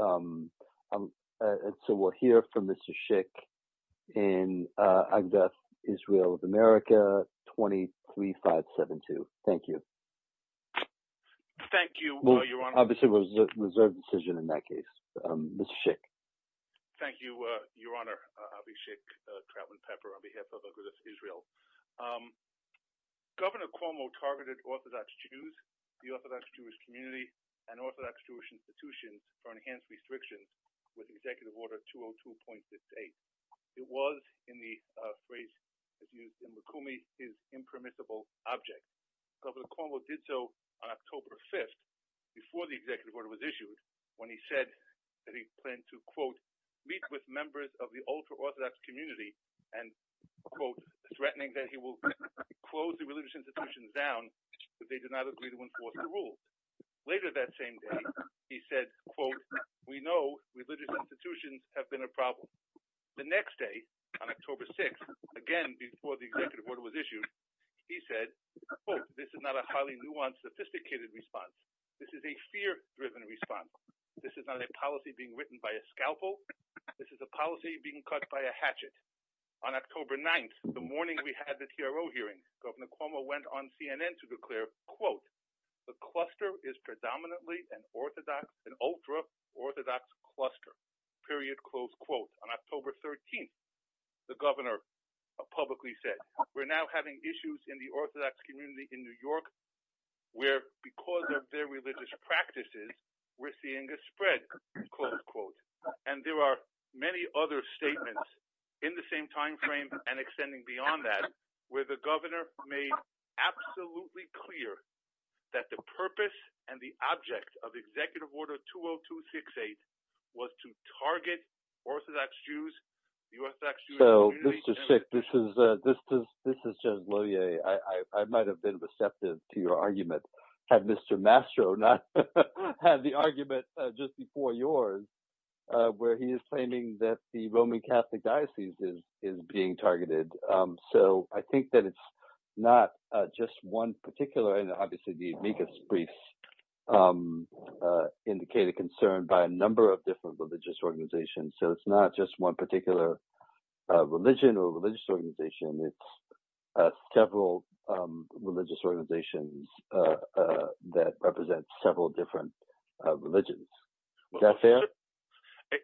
Agudath Israel of America 23572 Governor Cuomo targeted Orthodox Jews, the Orthodox Jewish community, and Orthodox Jewish institutions for enhanced restrictions with Executive Order 202.68. It was, in the phrase that's used in Rukumi, his impermissible object. Governor Cuomo did so on October 5th, before the Executive Order was issued, when he said that he planned to, quote, meet with members of the ultra-Orthodox community, and, quote, threatening that he will close the religious we know religious institutions have been a problem. The next day, on October 6th, again before the Executive Order was issued, he said, quote, this is not a highly nuanced, sophisticated response. This is a fear-driven response. This is not a policy being written by a scalpel. This is a policy being cut by a hatchet. On October 9th, the morning we had the TRO hearing, Governor Cuomo went on CNN to declare, quote, the cluster is predominantly an Orthodox, an ultra-Orthodox cluster, period, close quote. On October 13th, the governor publicly said, we're now having issues in the Orthodox community in New York, where because of their religious practices, we're seeing a spread, close quote. And there are many other statements in the same timeframe and extending beyond that, where the governor made absolutely clear that the purpose and the object of Executive Order 20268 was to target Orthodox Jews, the Orthodox Jewish community. So, Mr. Schick, this is Jez Loyer. I might have been receptive to your argument, had Mr. Mastro not had the argument just before yours, where he is claiming that the Roman not just one particular, and obviously the amicus briefs indicate a concern by a number of different religious organizations. So it's not just one particular religion or religious organization. It's several religious organizations that represent several different religions. Is that fair?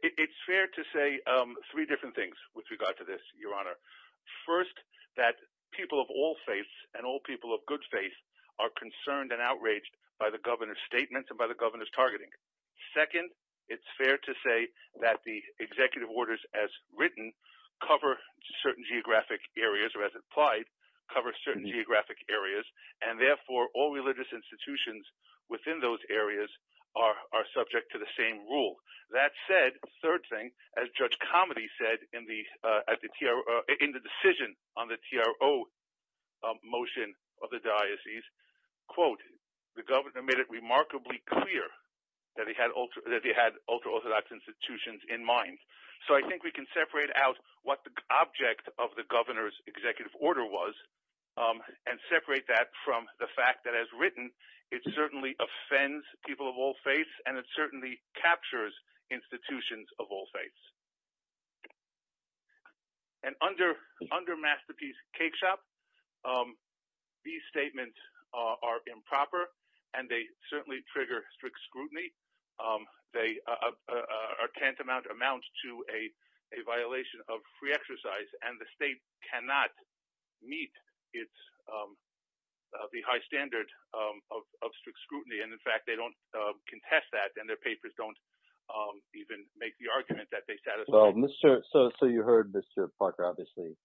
It's fair to say three different things with regard to this, Your Honor. First, that people of all faiths and all people of good faith are concerned and outraged by the governor's statements and by the governor's targeting. Second, it's fair to say that the executive orders as written cover certain geographic areas, or as implied, cover certain geographic areas, and therefore all religious institutions within those areas are subject to the same rule. That said, third thing, as Judge Comedy said in the decision on the TRO motion of the diocese, quote, the governor made it remarkably clear that he had ultra-Orthodox institutions in mind. So I think we can separate out what the object of the governor's executive order was and separate that from the fact that, as written, it certainly offends people of all faiths and it certainly captures institutions of all faiths. And under Masterpiece Cakeshop, these statements are improper and they certainly trigger strict scrutiny. They are tantamount to a violation of free exercise and the state cannot meet the high standard of strict scrutiny. And in fact, they don't contest that and their papers don't even make the argument that they satisfy. Well, so you heard Mr. Parker, obviously,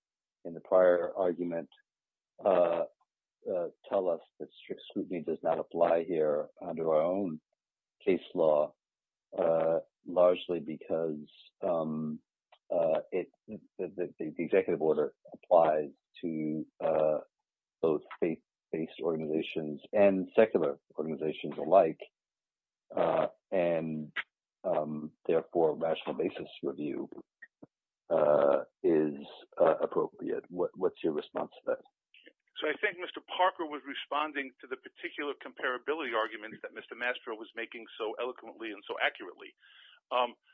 in the prior argument, tell us that strict scrutiny does not apply here under our own case law, largely because the executive order applies to both faith-based organizations and secular organizations alike, and therefore rational basis review is appropriate. What's your response to that? So I think Mr. Parker was responding to the particular comparability argument that Mr. Mastro was making so eloquently and so accurately.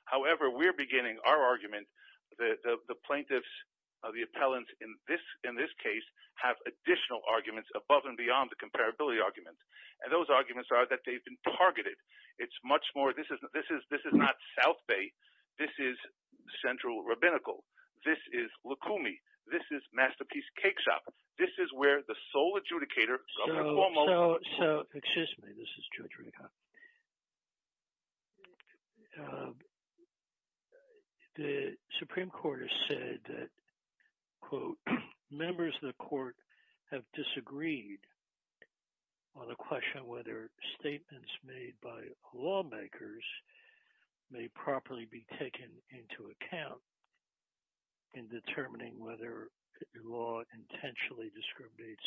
However, we're beginning our argument that the plaintiffs, the appellants in this case, have additional arguments above and beyond the comparability argument. And those arguments are that they've been targeted. It's much more, this is not South Bay. This is Central Rabbinical. This is Lukumi. This is Masterpiece Cakeshop. This is where the sole adjudicator, Governor Cuomo... So, excuse me, this is Judge Rekha. The Supreme Court has said that, quote, members of the court have disagreed on the question whether statements made by lawmakers may properly be taken into account in determining whether the law intentionally discriminates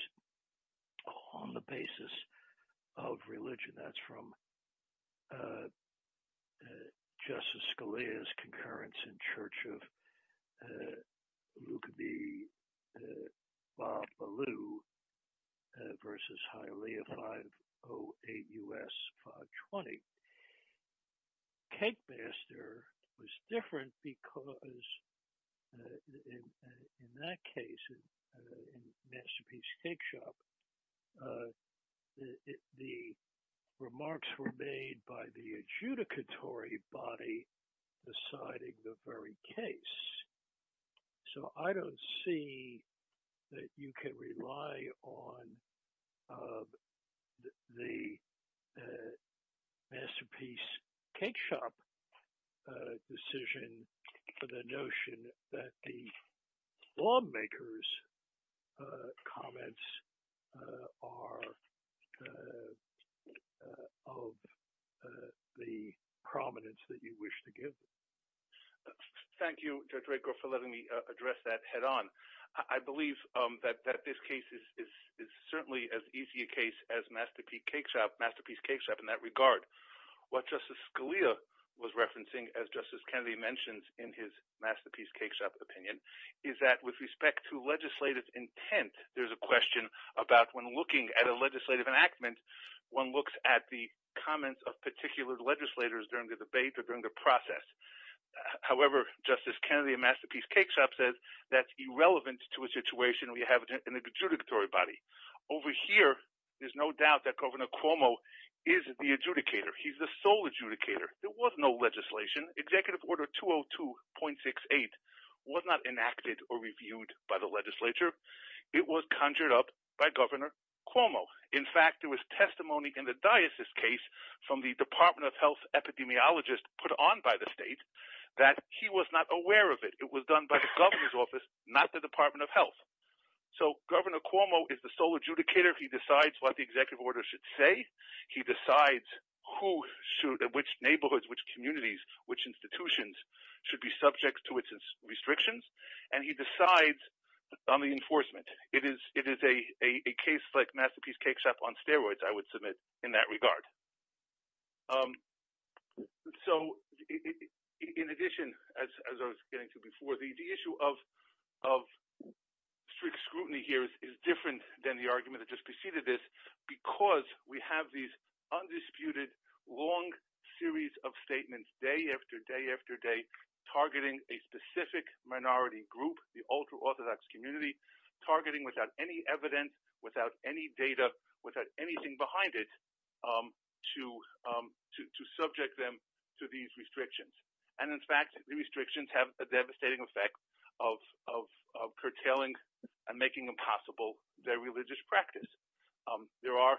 on the basis of religion. That's from Justice Scalia's concurrence in Church of Lukumi Babalu versus Hialeah 508 U.S. 520. Cakemaster was different because, in that case, in Masterpiece Cakeshop, the remarks were made by the adjudicatory body deciding the very case. So, I don't see that you can rely on the Masterpiece Cakeshop decision for the notion that the lawmakers comments are of the prominence that you wish to give. Thank you, Judge Rekha, for letting me address that head-on. I believe that this case is certainly as easy a case as Masterpiece Cakeshop in that regard. What Justice Scalia was referencing, as Justice Kennedy mentions in his Masterpiece Cakeshop opinion, is that with respect to legislative intent, there's a question about when looking at a legislative enactment, one looks at the comments of particular legislators during the debate or during the process. However, Justice Kennedy in Masterpiece Cakeshop says that's irrelevant to a situation we have in the adjudicatory body. Over here, there's no doubt that Governor Cuomo is the adjudicator. He's the sole adjudicator. There was no legislation. Executive Order 202.68 was not enacted or reviewed by the legislature. It was conjured up by Governor Cuomo. In fact, there was testimony in the diocese case from the Department of Health epidemiologist put on by the state that he was not aware of it. It was done by the governor's office, not the Department of Health. So, Governor Cuomo is the sole adjudicator. He decides what the executive order should say. He decides which neighborhoods, which communities, which institutions should be subject to its restrictions. And he decides on the enforcement. It is a case like Masterpiece Cakeshop on steroids, I would submit, in that regard. So, in addition, as I was getting to before, the issue of strict scrutiny here is different than the argument that just preceded this, because we have these undisputed, long series of statements, day after day after day, targeting a specific minority group, the ultra-orthodox community, targeting without any evidence, without any data, without anything behind it, to subject them to these restrictions. And, in fact, the restrictions have a devastating effect of curtailing and making impossible their religious practice. There are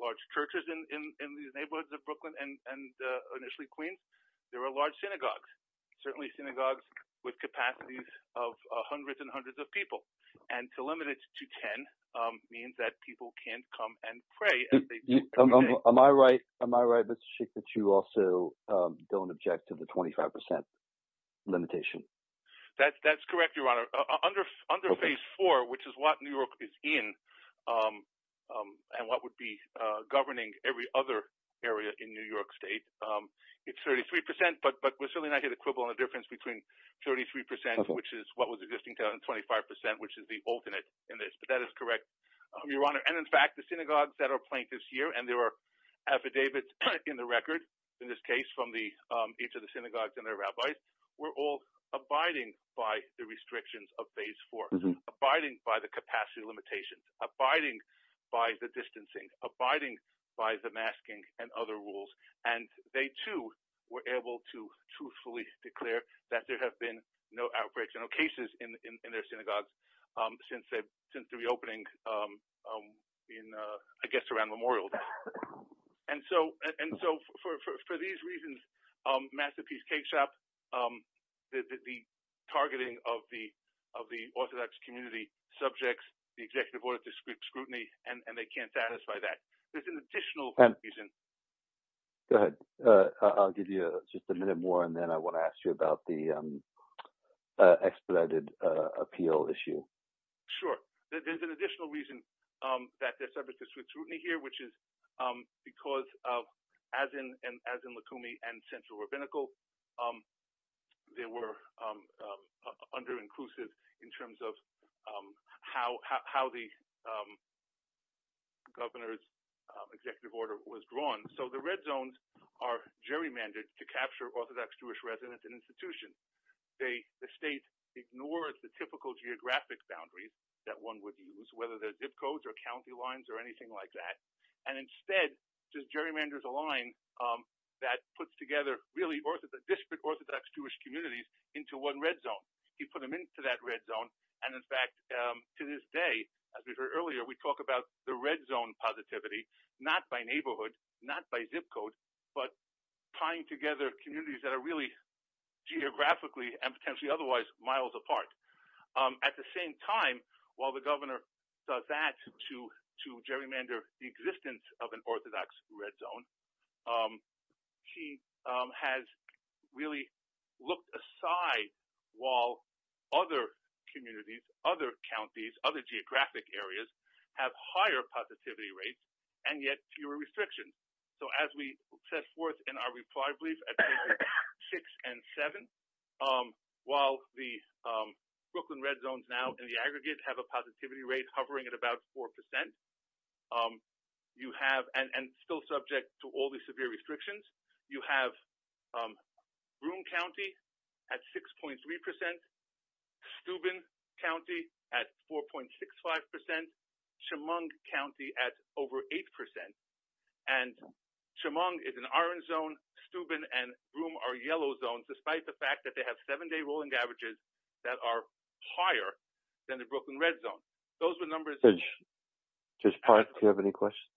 large churches in these neighborhoods of Brooklyn and initially Queens. There are large synagogues, certainly synagogues with capacities of hundreds and hundreds of people. And to limit it to 10 means that people can't come and pray. Am I right, Mr. Schick, that you also don't object to the 25 percent limitation? That's correct, Your Honor. Under Phase 4, which is what New York is in and what would be governing every other area in New York State, it's 33 percent. But we're certainly not going to quibble on the difference between 33 percent, which is what was existing, and 25 percent, which is the alternate in this. But that is correct, Your Honor. And, in fact, the synagogues that are plaintiffs here, and there are affidavits in the record, in this case, were all abiding by the restrictions of Phase 4, abiding by the capacity limitations, abiding by the distancing, abiding by the masking and other rules. And they, too, were able to truthfully declare that there have been no outbreaks, no cases in their synagogues since the reopening, I guess, around Memorial Day. And so for these reasons, Masterpiece takes up the targeting of the orthodox community subjects, the executive order to scrutiny, and they can't satisfy that. There's an additional reason. Go ahead. I'll give you just a minute more, and then I want to ask you about the expedited appeal issue. Sure. There's an additional reason that there's subjects to scrutiny here, which is because as in Lukumi and Central Rabbinical, they were under-inclusive in terms of how the governor's executive order was drawn. So the red zones are gerrymandered to capture orthodox Jewish residents and institutions. The state ignores the typical geographic boundaries that one would use, whether they're zip codes or county lines or anything like that, and instead just gerrymanders a line that puts together really disparate orthodox Jewish communities into one red zone. You put them into that red zone, and in fact, to this day, as we heard earlier, we talk about the red zone positivity, not by neighborhood, not by zip code, but tying together communities that are really geographically and potentially otherwise miles apart. At the same time, while the governor does that to gerrymander the existence of an orthodox red zone, he has really looked aside while other communities, other counties, other geographic areas have higher positivity rates and yet fewer restrictions. So as we set forth in our reply brief at pages six and seven, while the Brooklyn red zones now in the aggregate have a positivity rate hovering at about 4%, you have, and still subject to all the severe restrictions, you have Broome County at 6.3%, Steuben County at 4.65%, Chemung County at over 8%, and Chemung is an orange zone, Steuben and Broome are yellow zones, despite the fact that they have seven-day rolling averages that are higher than the Brooklyn red zone. Those are the numbers. Judge Park, do you have any questions?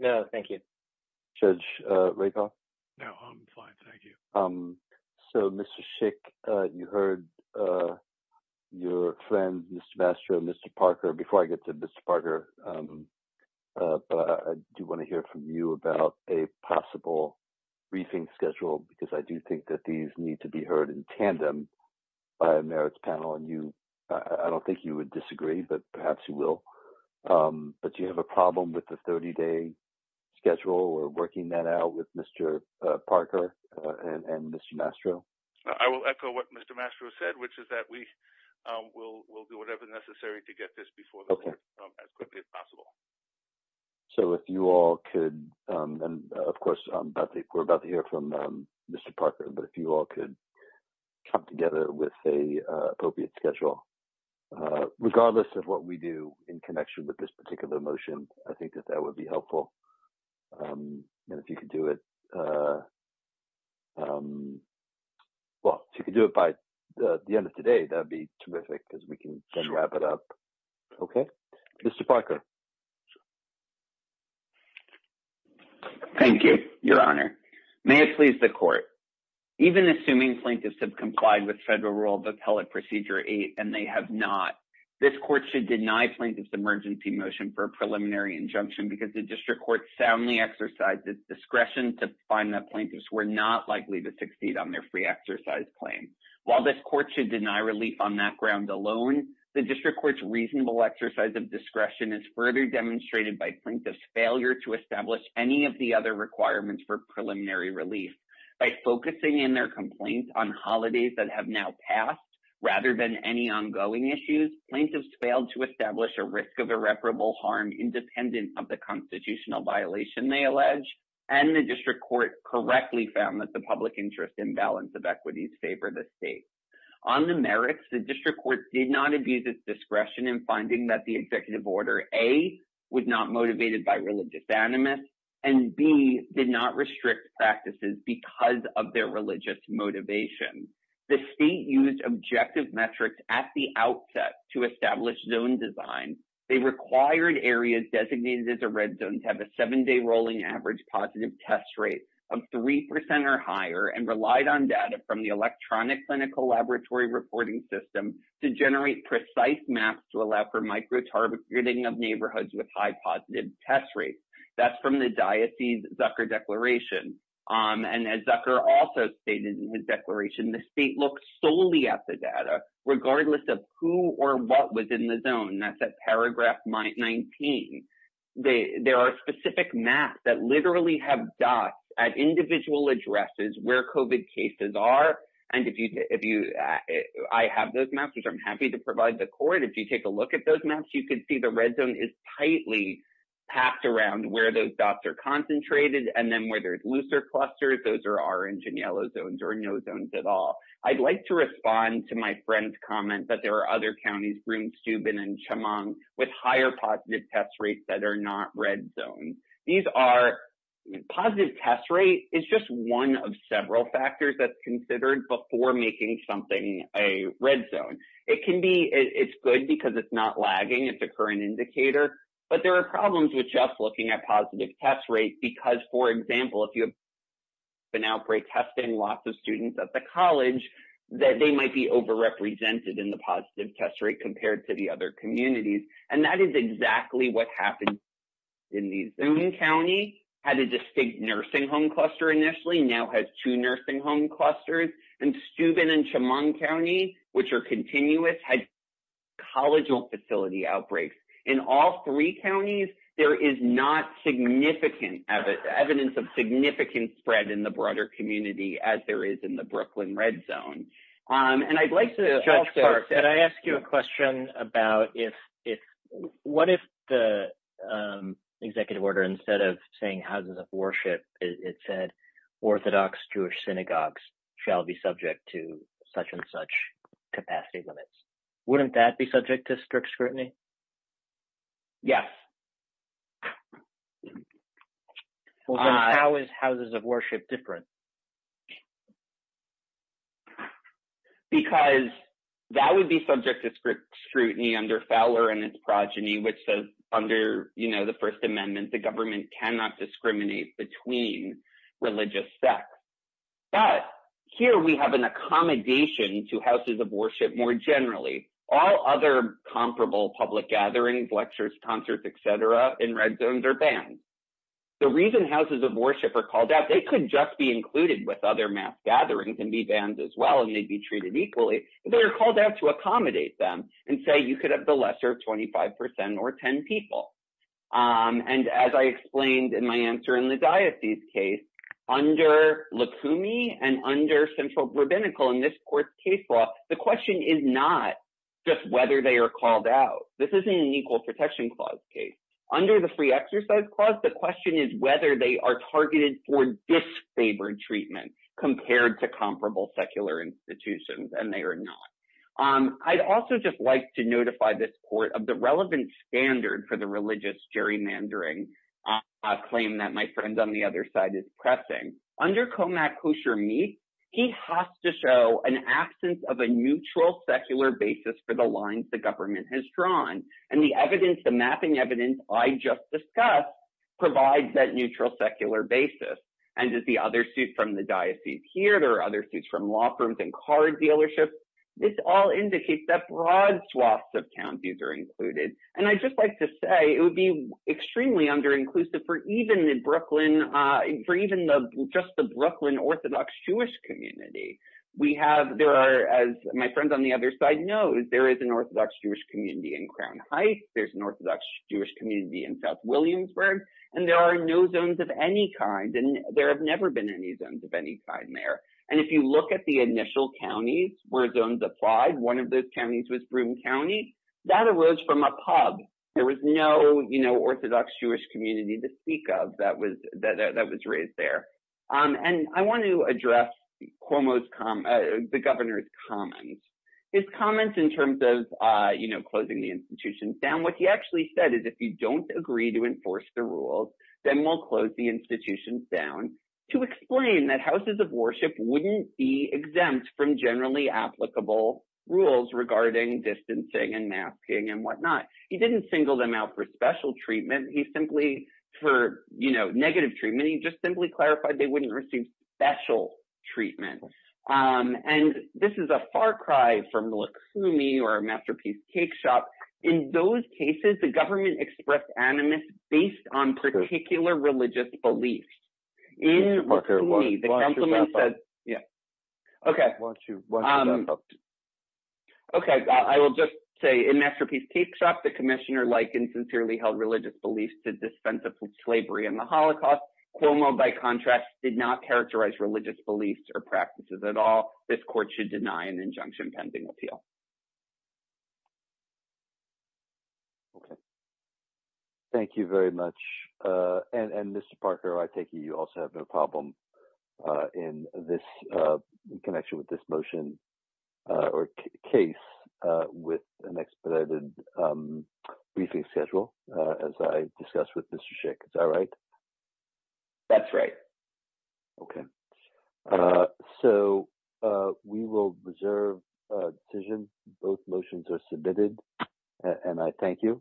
No, thank you. Judge Rakoff? No, I'm fine, thank you. So, Mr. Schick, you heard your friend, Mr. Mastro, Mr. Parker. Before I get to Mr. Parker, I do want to hear from you about a possible briefing schedule, because I do think that these need to be heard in tandem by a merits panel, and I don't think you would disagree, but perhaps you will. But do you have a problem with the 30-day schedule or working that out with Mr. Parker and Mr. Mastro? I will echo what Mr. Mastro said, which is that we will do whatever is necessary to get this before as quickly as possible. So, if you all could, and of course, we're about to hear from Mr. Parker, but if you all could come together with an appropriate schedule. Regardless of what we do in connection with this particular motion, I think that that would be helpful. And if you could do it, well, if you could do it by the end of today, that would be terrific, because we can then wrap it up. Okay? Mr. Parker? Thank you, Your Honor. May it please the Court. Even assuming plaintiffs have complied with Federal Rule of Appellate Procedure 8 and they have not, this Court should deny plaintiffs emergency motion for a preliminary injunction because the District Court soundly exercised its discretion to find that plaintiffs were not likely to succeed on their free exercise claim. While this Court should deny relief on that ground alone, the District Court's reasonable exercise of discretion is further demonstrated by plaintiffs' failure to establish any of the other requirements for preliminary relief. By focusing in their complaints on holidays that have now passed rather than any ongoing issues, plaintiffs failed to establish a risk of irreparable harm independent of the constitutional violation they allege, and the District Court correctly found that the public interest imbalance of equities favor the State. On the merits, the District Court did not abuse its discretion in finding that the Executive Order A was not motivated by religious animus, and B did not restrict practices because of their religious motivation. The State used objective metrics at the outset to establish zone design. They required areas designated as a red zone to have a seven-day rolling average positive test rate of 3 percent or higher and relied on data from the electronic clinical laboratory reporting system to generate precise maps to allow for micro-targeting of neighborhoods with high positive test rates. That's from the diocese's Zucker Declaration. And as Zucker also stated in his declaration, the State looked solely at the data regardless of who or what was in the zone. That's at paragraph 19. There are specific maps that literally have dots at individual addresses where COVID cases are. And if you — I have those maps, which I'm happy to provide the court. If you take a look at those maps, you can see the red zone is tightly packed around where those dots are concentrated. And then where there's looser clusters, those are orange and yellow zones or no zones at all. I'd like to respond to my friend's comment that there are other counties, Broome, Steuben, and Chemung, with higher positive test rates that are not red zones. These are — positive test rate is just one of several factors that's considered before making something a red zone. It can be — it's good because it's not lagging. It's a current indicator. But there are problems with just looking at positive test rates because, for example, if you have an outbreak testing lots of students at the college, that they might be overrepresented in the positive test rate compared to the other communities. And that is exactly what happened in the Zoom County, had a distinct nursing home cluster initially, now has two nursing home clusters. And Steuben and Chemung County, which are continuous, had college facility outbreaks. In all three counties, there is not significant — evidence of significant spread in the broader community as there is in the Brooklyn red zone. And I'd like to — Judge Clark, can I ask you a question about if — what if the executive order, instead of saying houses of worship, it said orthodox Jewish synagogues shall be subject to such and such capacity limits? Wouldn't that be subject to strict scrutiny? Yes. Well, then how is houses of worship different? Because that would be subject to strict scrutiny under Fowler and its progeny, which says under, you know, the First Amendment, the government cannot discriminate between religious sects. But here we have an accommodation to houses of worship more generally. All other comparable public gatherings, lectures, concerts, et cetera, in red zones are banned. The reason houses of worship are called out, they could just be included with other mass gatherings and be banned as well and may be treated equally, but they are called out to accommodate them and say you could have the lesser of 25% or 10 people. And as I explained in my answer in the diocese case, under Lukumi and under central rabbinical in this court's case law, the question is not just whether they are called out. This isn't an equal protection clause case. Under the free exercise clause, the question is whether they are targeted for disfavored treatment compared to comparable secular institutions, and they are not. I'd also just like to notify this court of the relevant standard for the religious gerrymandering claim that my friend on the other side is pressing. Under Komak kosher meat, he has to show an absence of a neutral secular basis for the lines the government has drawn. And the evidence, the mapping evidence I just discussed, provides that neutral secular basis. And does the other suit from the diocese here, there are other suits from law firms and car dealerships, this all indicates that broad swaths of counties are included. And I'd just like to say, it would be extremely under-inclusive for even the Brooklyn, for even the, just the Brooklyn Orthodox Jewish community. We have, there are, as my friend on the other side knows, there is an Orthodox Jewish community in Crown Heights, there's an Orthodox Jewish community in South Williamsburg, and there are no zones of any kind, and there have never been any zones of any kind there. And if you look at the initial counties where zones applied, one of those counties was Broome County, that arose from a pub. There was no, you know, Orthodox Jewish community to speak of that was, that was raised there. And I want to address Cuomo's, the governor's comments. His comments in terms of, you know, closing the institutions down, what he actually said is, if you don't agree to enforce the rules, then we'll close the institutions down, to explain that houses of worship wouldn't be exempt from generally applicable rules regarding distancing and masking and whatnot. He didn't single them out for special treatment. He simply, for, you know, negative treatment, he just simply clarified they wouldn't receive special treatment. And this is a far cry from the Luksumi or Masterpiece Cake Shop. In those cases, the government expressed animus based on particular religious beliefs. In Luksumi, the councilman said, yeah, okay. Okay, I will just say in Masterpiece Cake Shop, the commissioner likened sincerely held religious beliefs to dispensable slavery in the Holocaust. Cuomo, by contrast, did not characterize religious beliefs or practices at all. This court should deny an injunction pending appeal. Okay. Thank you very much. And Mr. Parker, I take it you also have a problem in this connection with this motion or case with an expedited briefing schedule, as I discussed with Mr. Schick. Is that right? That's right. Okay. So we will reserve decision. Both motions are submitted. And I thank you.